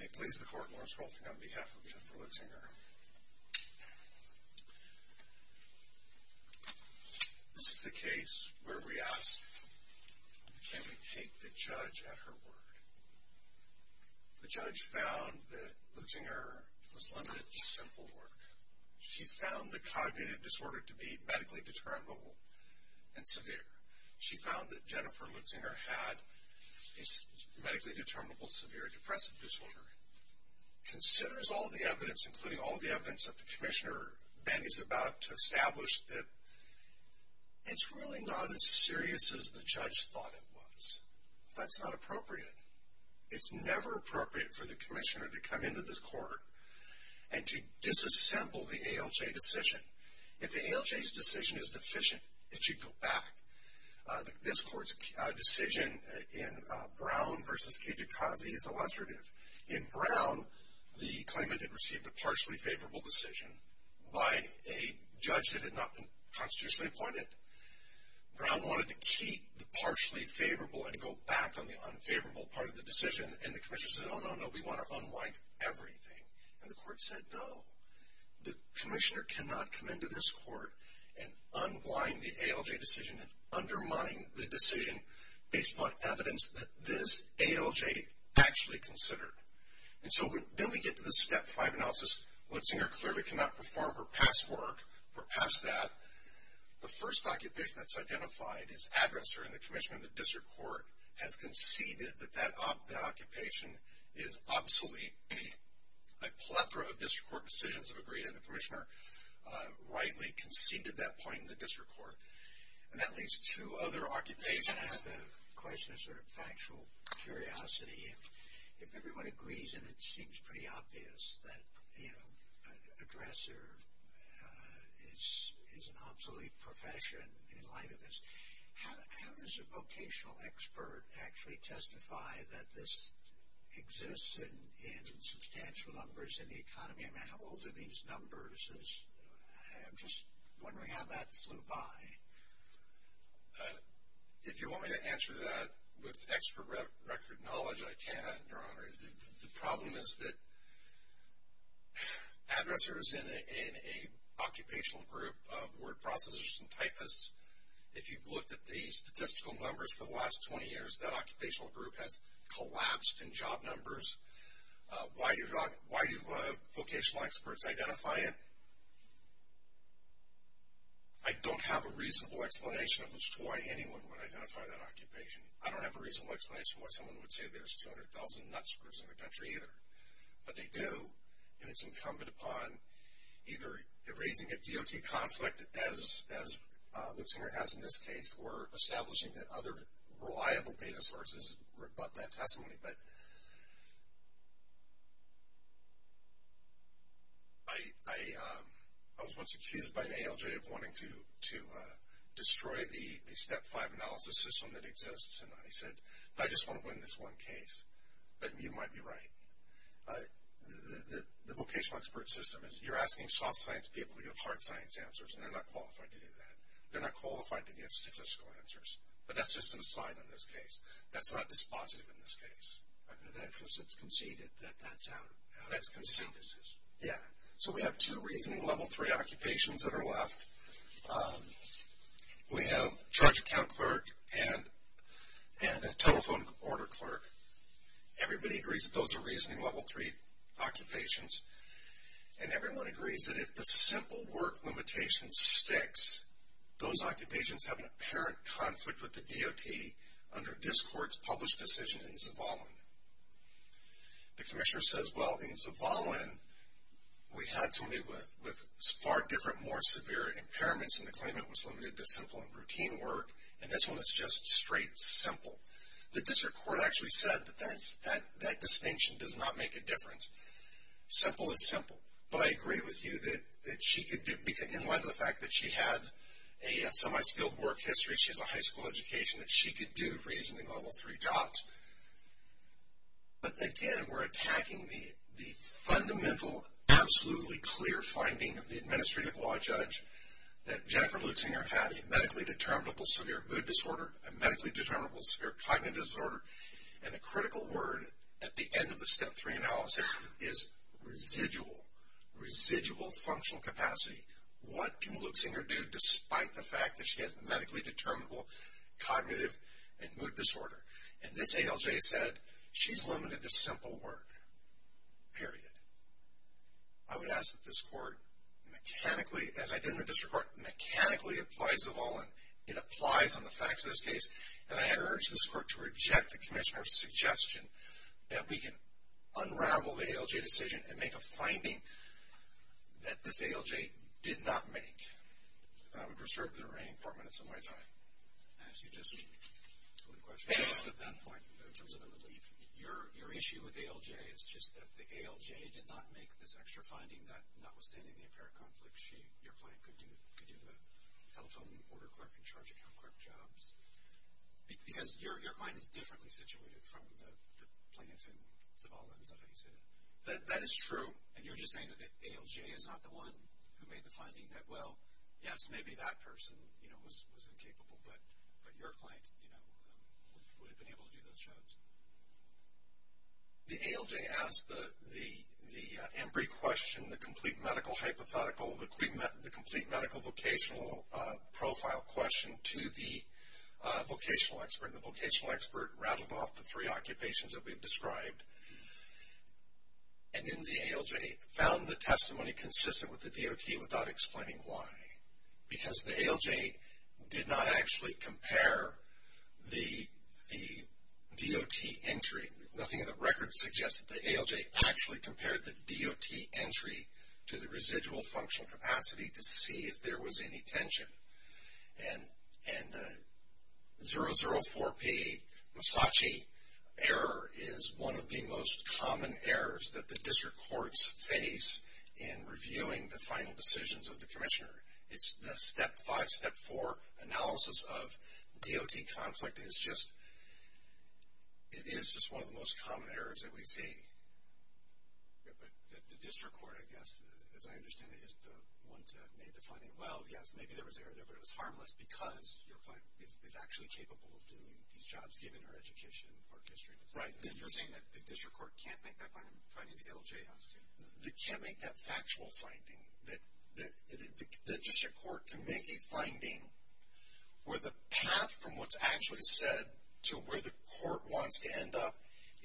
May it please the court, Lawrence Rolfing on behalf of Jenifer Luchsinger. This is a case where we ask, can we take the judge at her word? The judge found that Luchsinger was limited to simple work. She found the cognitive disorder to be medically determinable and severe. She found that Jenifer Luchsinger had a medically determinable severe depressive disorder. Considers all the evidence, including all the evidence that the commissioner, Ben, is about to establish that it's really not as serious as the judge thought it was. That's not appropriate. It's never appropriate for the commissioner to come into this court and to disassemble the ALJ decision. If the ALJ's decision is deficient, it should go back. This court's decision in Brown v. Kijakazi is illustrative. In Brown, the claimant had received a partially favorable decision by a judge that had not been constitutionally appointed. Brown wanted to keep the partially favorable and go back on the unfavorable part of the decision. And the commissioner said, oh, no, no, we want to unwind everything. And the court said, no. The commissioner cannot come into this court and unwind the ALJ decision and undermine the decision based upon evidence that this ALJ actually considered. And so then we get to the step five analysis. Luchsinger clearly cannot perform her past work or past that. The first occupation that's identified is aggressor, and the commissioner of the district court has conceded that that occupation is obsolete. A plethora of district court decisions have agreed, and the commissioner rightly conceded that point in the district court. And that leads to other occupations. I have a question of sort of factual curiosity. If everyone agrees, and it seems pretty obvious that, you know, aggressor is an obsolete profession in light of this, how does a vocational expert actually testify that this exists in substantial numbers in the economy? I mean, how old are these numbers? I'm just wondering how that flew by. If you want me to answer that with extra record knowledge, I can, Your Honor. The problem is that aggressors in an occupational group of word processors and typists, if you've looked at the statistical numbers for the last 20 years, that occupational group has collapsed in job numbers. Why do vocational experts identify it? I don't have a reasonable explanation as to why anyone would identify that occupation. I don't have a reasonable explanation why someone would say there's 200,000 nutscrews in the country either. But they do, and it's incumbent upon either erasing a DOT conflict, as Luke Singer has in this case, or establishing that other reliable data sources rebut that testimony. But I was once accused by an ALJ of wanting to destroy the Step 5 analysis system that exists. And I said, I just want to win this one case. But you might be right. The vocational expert system is you're asking soft science people to give hard science answers, and they're not qualified to do that. They're not qualified to give statistical answers. But that's just an aside in this case. That's not dispositive in this case. That's because it's conceded that that's out of the system. Yeah. So we have two reasonable Level 3 occupations that are left. We have a charge account clerk and a telephone order clerk. Everybody agrees that those are reasonable Level 3 occupations. And everyone agrees that if the simple work limitation sticks, those occupations have an apparent conflict with the DOT under this court's published decision in Zavallin. The commissioner says, well, in Zavallin, we had somebody with far different, more severe impairments, and the claimant was limited to simple and routine work. And this one is just straight simple. The district court actually said that that distinction does not make a difference. Simple is simple. But I agree with you that she could do, in light of the fact that she had a semi-skilled work history, she has a high school education, that she could do reasonable Level 3 jobs. But, again, we're attacking the fundamental, absolutely clear finding of the administrative law judge that Jennifer Luxinger had a medically determinable severe mood disorder, a medically determinable severe cognitive disorder, and the critical word at the end of the Step 3 analysis is residual, residual functional capacity. What can Luxinger do despite the fact that she has medically determinable cognitive and mood disorder? And this ALJ said she's limited to simple work. Period. I would ask that this court mechanically, as I did in the district court, mechanically applies Zavallin. It applies on the facts of this case, and I urge this court to reject the commissioner's suggestion that we can unravel the ALJ decision and make a finding that this ALJ did not make. And I would reserve the remaining four minutes of my time. As you just told the question, at that point, in terms of a relief, your issue with ALJ is just that the ALJ did not make this extra finding that, notwithstanding the apparent conflict, your client could do the telephone order clerk and charge account clerk jobs. Because your client is differently situated from the plaintiff in Zavallin, is that how you say that? That is true. And you're just saying that the ALJ is not the one who made the finding that, well, yes, maybe that person was incapable, but your client would have been able to do those jobs. The ALJ asked the Embry question, the complete medical hypothetical, the complete medical vocational profile question to the vocational expert, and the vocational expert rattled off the three occupations that we've described. And then the ALJ found the testimony consistent with the DOT without explaining why. Because the ALJ did not actually compare the DOT entry. Nothing in the record suggests that the ALJ actually compared the DOT entry to the residual functional capacity to see if there was any tension. And the 004P Masachi error is one of the most common errors that the district courts face in reviewing the final decisions of the commissioner. It's the step five, step four analysis of DOT conflict. It is just one of the most common errors that we see. Yeah, but the district court, I guess, as I understand it, is the one that made the finding, well, yes, maybe there was an error there, but it was harmless because your client is actually capable of doing these jobs given her education or history. Right. You're saying that the district court can't make that finding, the ALJ asked it. They can't make that factual finding. The district court can make a finding where the path from what's actually said to where the court wants to end up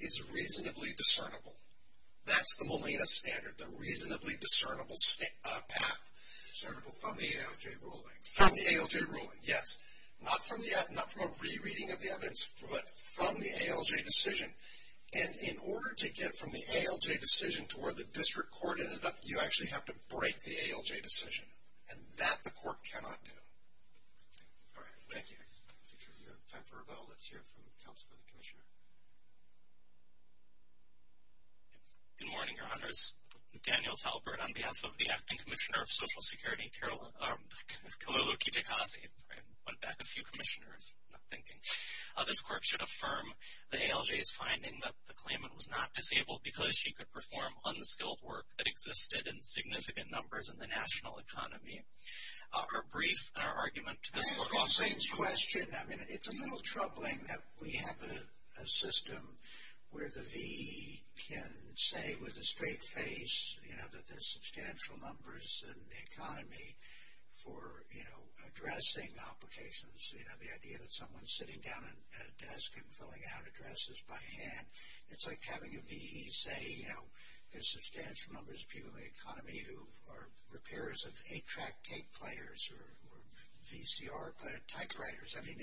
is reasonably discernible. That's the Molina standard, the reasonably discernible path. Discernible from the ALJ ruling. From the ALJ ruling, yes. Not from a rereading of the evidence, but from the ALJ decision. And in order to get from the ALJ decision to where the district court ended up, you actually have to break the ALJ decision, and that the court cannot do. All right. Thank you. Time for a vote. Let's hear it from the Council for the Commissioner. Good morning, Your Honors. Daniel Talbert on behalf of the Acting Commissioner of Social Security, Karolu Kitakazi. Went back a few commissioners. I'm not thinking. This court should affirm the ALJ's finding that the claimant was not disabled because she could perform unskilled work that existed in significant numbers in the national economy. A brief argument to this court. Same question. I mean, it's a little troubling that we have a system where the VE can say with a straight face, you know, that there's substantial numbers in the economy for, you know, addressing applications. You know, the idea that someone's sitting down at a desk and filling out addresses by hand. It's like having a VE say, you know, there's substantial numbers of people in the economy who are repairs of 8-track tape players or VCR typewriters. I mean,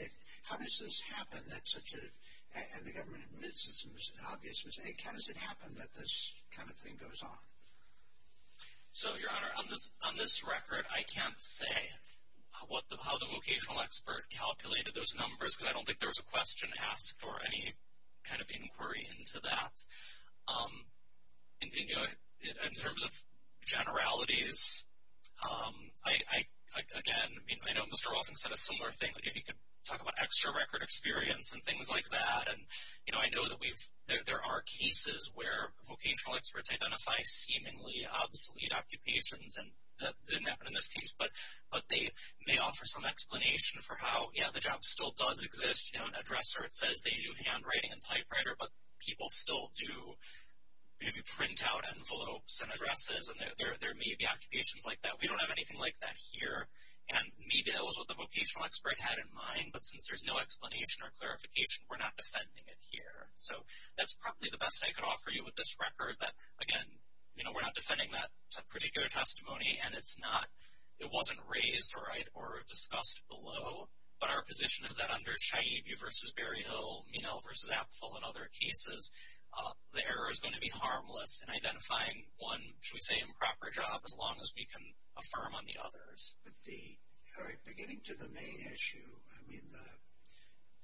how does this happen that such a – and the government admits it's an obvious mistake. How does it happen that this kind of thing goes on? So, Your Honor, on this record, I can't say how the vocational expert calculated those numbers because I don't think there was a question asked or any kind of inquiry into that. In terms of generalities, I, again, I know Mr. Walton said a similar thing. He could talk about extra record experience and things like that. And, you know, I know that there are cases where vocational experts identify seemingly obsolete occupations. And that didn't happen in this case. But they may offer some explanation for how, yeah, the job still does exist. You know, an addresser, it says they do handwriting and typewriter, but people still do maybe print out envelopes and addresses. And there may be occupations like that. We don't have anything like that here. And maybe that was what the vocational expert had in mind. But since there's no explanation or clarification, we're not defending it here. So that's probably the best I could offer you with this record. But, again, you know, we're not defending that particular testimony. And it's not – it wasn't raised or discussed below. But our position is that under Chayibu v. Berryhill, Minow v. Apfel and other cases, the error is going to be harmless in identifying one, shall we say, improper job, as long as we can affirm on the others. But the – all right, beginning to the main issue, I mean,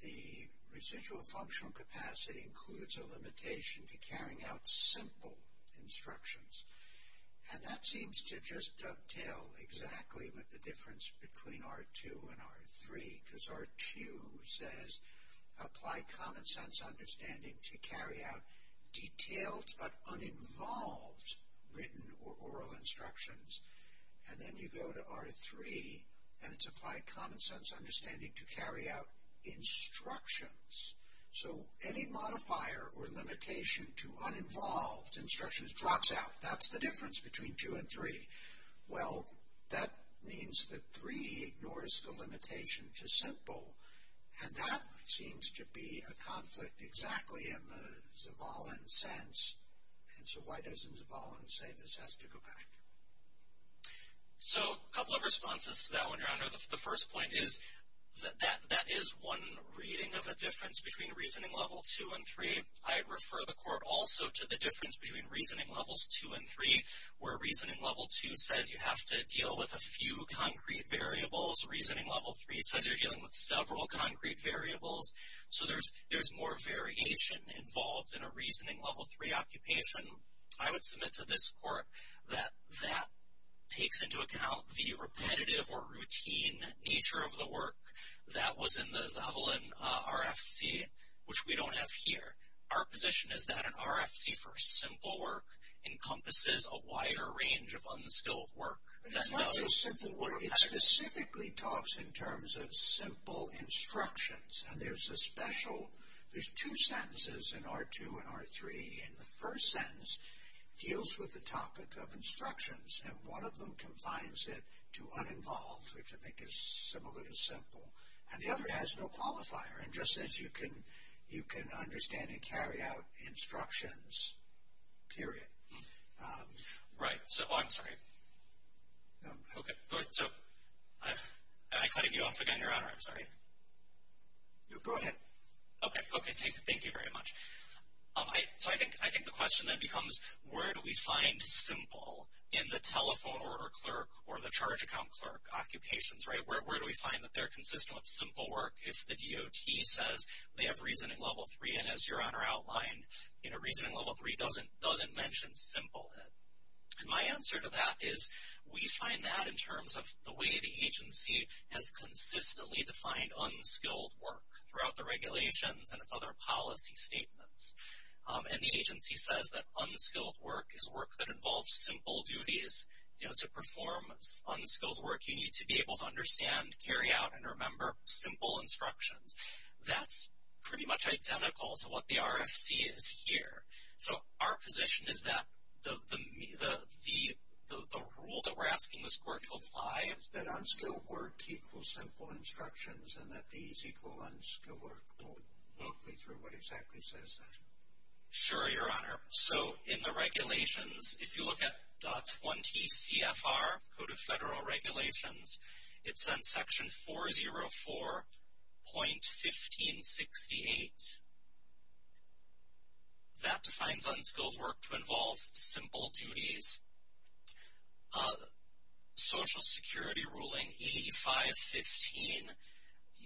the residual functional capacity includes a limitation to carrying out simple instructions. And that seems to just dovetail exactly with the difference between R2 and R3, because R2 says apply common sense understanding to carry out detailed but uninvolved written or oral instructions. And then you go to R3, and it's apply common sense understanding to carry out instructions. So any modifier or limitation to uninvolved instructions drops out. That's the difference between R2 and R3. Well, that means that R3 ignores the limitation to simple. And that seems to be a conflict exactly in the Zavallon sense. And so why doesn't Zavallon say this has to go back? So a couple of responses to that one, Your Honor. The first point is that that is one reading of a difference between Reasoning Level 2 and 3. I refer the Court also to the difference between Reasoning Levels 2 and 3, where Reasoning Level 2 says you have to deal with a few concrete variables. Reasoning Level 3 says you're dealing with several concrete variables. So there's more variation involved in a Reasoning Level 3 occupation. I would submit to this Court that that takes into account the repetitive or routine nature of the work that was in the Zavallon RFC, which we don't have here. Our position is that an RFC for simple work encompasses a wider range of unskilled work. It's not just simple work. It specifically talks in terms of simple instructions. And there's a special, there's two sentences in R2 and R3. And the first sentence deals with the topic of instructions. And one of them confines it to uninvolved, which I think is similar to simple. And the other has no qualifier and just says you can understand and carry out instructions, period. Right. So I'm sorry. Okay. So am I cutting you off again, Your Honor? I'm sorry. Go ahead. Okay. Thank you very much. So I think the question then becomes where do we find simple in the telephone or clerk or the charge account clerk occupations, right? Where do we find that they're consistent with simple work if the DOT says they have Reasoning Level 3? And as Your Honor outlined, you know, Reasoning Level 3 doesn't mention simple. And my answer to that is we find that in terms of the way the agency has consistently defined unskilled work throughout the regulations and its other policy statements. And the agency says that unskilled work is work that involves simple duties, you know, to perform unskilled work you need to be able to understand, carry out, and remember simple instructions. That's pretty much identical to what the RFC is here. So our position is that the rule that we're asking this court to apply is that unskilled work equals simple instructions and that these equal unskilled work. Walk me through what exactly says that. Sure, Your Honor. So in the regulations, if you look at DOT 20 CFR, Code of Federal Regulations, it's on Section 404.1568. That defines unskilled work to involve simple duties. Social Security Ruling 8515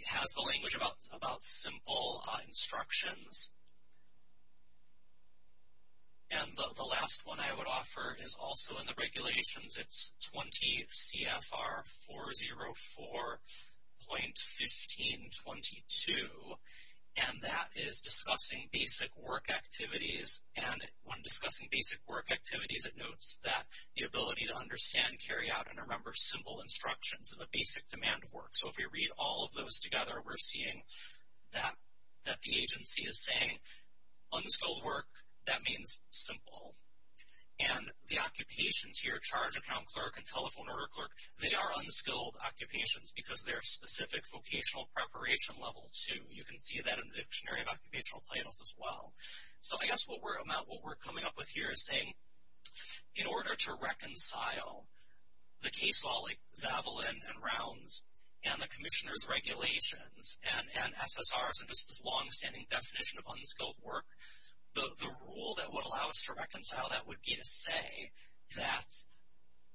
has the language about simple instructions. And the last one I would offer is also in the regulations. It's 20 CFR 404.1522, and that is discussing basic work activities. And when discussing basic work activities, it notes that the ability to understand, carry out, and remember simple instructions is a basic demand of work. So if we read all of those together, we're seeing that the agency is saying unskilled work, that means simple. And the occupations here, charge account clerk and telephone order clerk, they are unskilled occupations because they're specific vocational preparation level, too. You can see that in the dictionary of occupational titles as well. So I guess what we're coming up with here is saying in order to reconcile the case law, like Zavalin and rounds, and the commissioner's regulations, and SSRs, and just this longstanding definition of unskilled work, the rule that would allow us to reconcile that would be to say that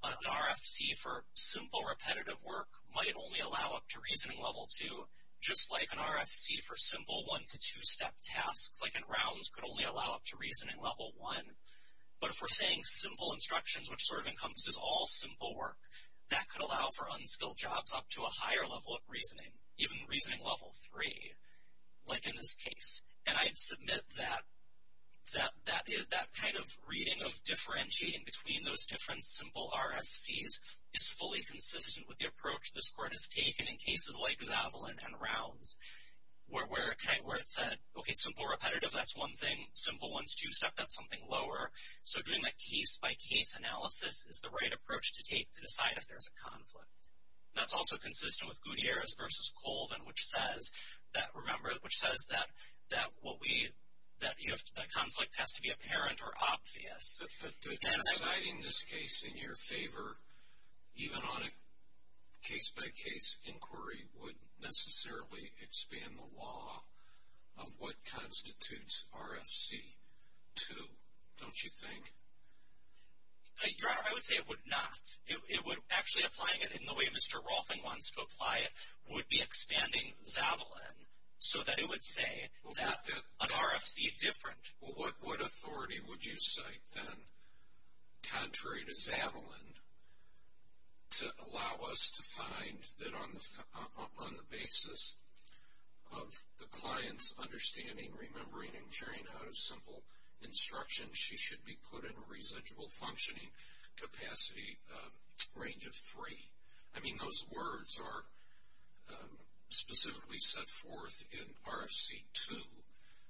an RFC for simple, repetitive work might only allow up to reasoning level two, just like an RFC for simple one- to two-step tasks, like in rounds, could only allow up to reasoning level one. But if we're saying simple instructions, which sort of encompasses all simple work, that could allow for unskilled jobs up to a higher level of reasoning, even reasoning level three, like in this case. And I'd submit that that kind of reading of differentiating between those different simple RFCs is fully consistent with the approach this court has taken in cases like Zavalin and rounds, where it said, okay, simple repetitive, that's one thing. Simple one-to-two-step, that's something lower. So doing that case-by-case analysis is the right approach to take to decide if there's a conflict. That's also consistent with Gutierrez v. Colvin, which says that, remember, which says that the conflict has to be apparent or obvious. But deciding this case in your favor, even on a case-by-case inquiry, would necessarily expand the law of what constitutes RFC two, don't you think? Your Honor, I would say it would not. Actually applying it in the way Mr. Rolfing wants to apply it would be expanding Zavalin, so that it would say that an RFC different. Well, what authority would you cite then, contrary to Zavalin, to allow us to find that on the basis of the client's understanding, remembering, and carrying out of simple instruction, she should be put in a residual functioning capacity range of three? I mean, those words are specifically set forth in RFC two.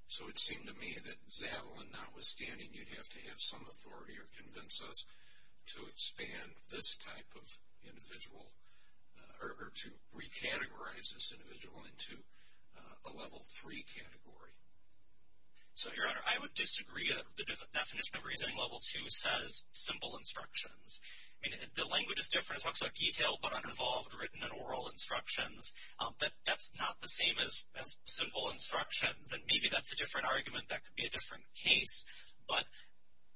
So it seemed to me that Zavalin, notwithstanding, you'd have to have some authority or convince us to expand this type of individual, or to recategorize this individual into a level three category. So, Your Honor, I would disagree. The definition of residual level two says simple instructions. I mean, the language is different. It talks about detailed but uninvolved written and oral instructions. That's not the same as simple instructions. And maybe that's a different argument. That could be a different case. But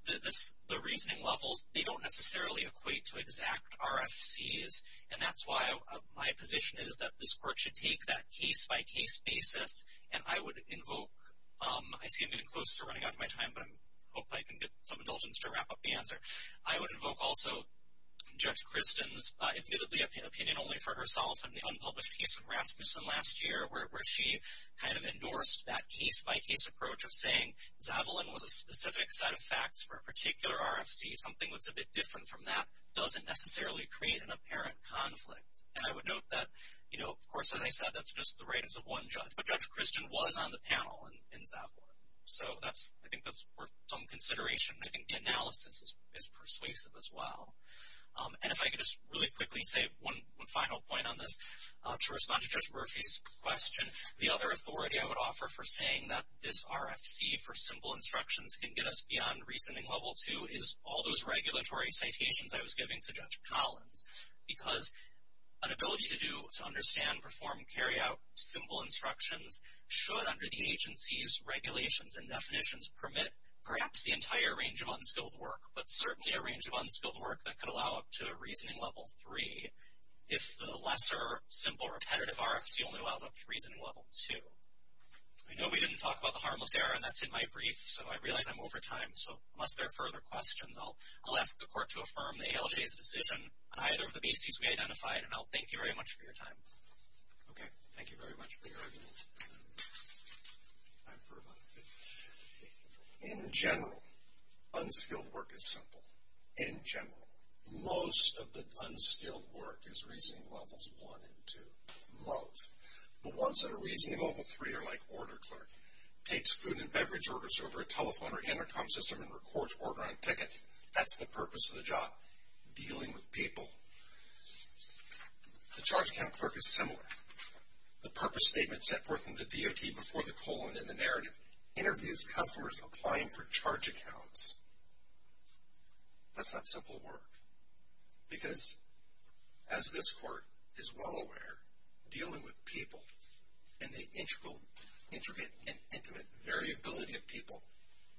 the reasoning levels, they don't necessarily equate to exact RFCs. And that's why my position is that this Court should take that case-by-case basis. And I would invoke – I see I'm getting close to running out of my time, but I hope I can get some indulgence to wrap up the answer. I would invoke also Judge Christin's admittedly opinion only for herself in the unpublished case of Rasmussen last year, where she kind of endorsed that case-by-case approach of saying Zavalin was a specific set of facts for a particular RFC, something that's a bit different from that, doesn't necessarily create an apparent conflict. And I would note that, you know, of course, as I said, that's just the writings of one judge. But Judge Christin was on the panel in Zavalin. So I think that's worth some consideration. I think the analysis is persuasive as well. And if I could just really quickly say one final point on this. To respond to Judge Murphy's question, the other authority I would offer for saying that this RFC for simple instructions can get us beyond reasoning level 2 is all those regulatory citations I was giving to Judge Collins, because an ability to do – to understand, perform, carry out simple instructions should, under the agency's regulations and definitions, permit perhaps the entire range of unskilled work, but certainly a range of unskilled work that could allow up to reasoning level 3 if the lesser, simple, repetitive RFC only allows up to reasoning level 2. I know we didn't talk about the harmless error, and that's in my brief. So I realize I'm over time. So unless there are further questions, I'll ask the Court to affirm the ALJ's decision on either of the bases we identified. And I'll thank you very much for your time. Okay. Thank you very much for your argument. In general, unskilled work is simple. In general, most of the unskilled work is reasoning levels 1 and 2. Most. The ones that are reasoning level 3 are like order clerk. Takes food and beverage orders over a telephone or intercom system and records order on a ticket. That's the purpose of the job. Dealing with people. The charge account clerk is similar. The purpose statement set forth in the DOT before the colon in the narrative interviews customers applying for charge accounts. That's not simple work. Because as this Court is well aware, dealing with people and the intricate and intimate variability of people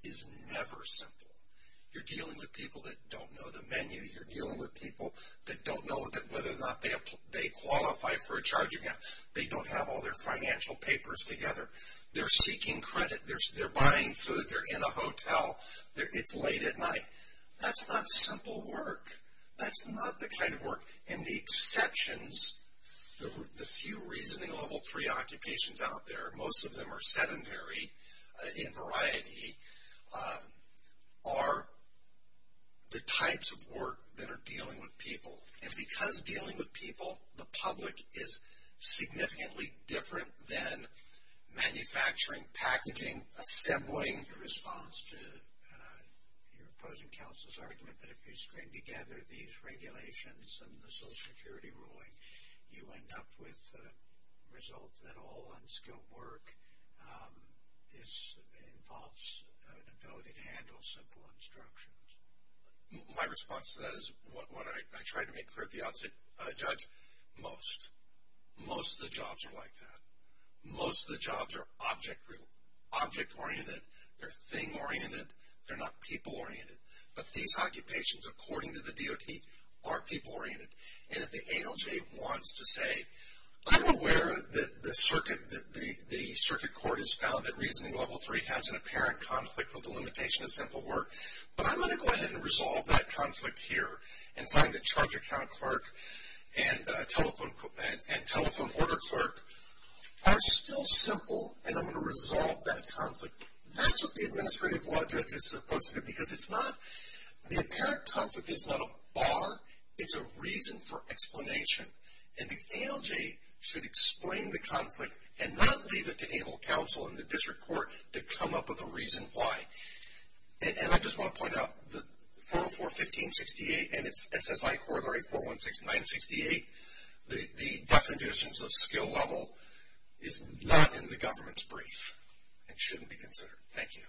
is never simple. You're dealing with people that don't know the menu. You're dealing with people that don't know whether or not they qualify for a charge account. They don't have all their financial papers together. They're seeking credit. They're buying food. They're in a hotel. It's late at night. That's not simple work. That's not the kind of work. And the exceptions, the few reasoning level 3 occupations out there, most of them are sedentary in variety, are the types of work that are dealing with people. And because dealing with people, the public is significantly different than manufacturing, packaging, assembling. In response to your opposing counsel's argument that if you string together these regulations and the Social Security ruling, you end up with a result that all unskilled work involves an ability to handle simple instructions. My response to that is what I tried to make clear at the outset, Judge, most. Most of the jobs are like that. Most of the jobs are object-oriented. They're thing-oriented. They're not people-oriented. But these occupations, according to the DOT, are people-oriented. And if the ALJ wants to say, I'm aware that the circuit court has found that reasoning level 3 has an apparent conflict with the limitation of simple work, but I'm going to go ahead and resolve that conflict here and find that charge account clerk and telephone order clerk are still simple, and I'm going to resolve that conflict. That's what the administrative law judge is supposed to do because it's not, the apparent conflict is not a bar, it's a reason for explanation. And the ALJ should explain the conflict and not leave it to able counsel and the district court to come up with a reason why. And I just want to point out that 404.15.68 and its SSI Corollary 416.968, the definitions of skill level is not in the government's brief. It shouldn't be considered. Thank you.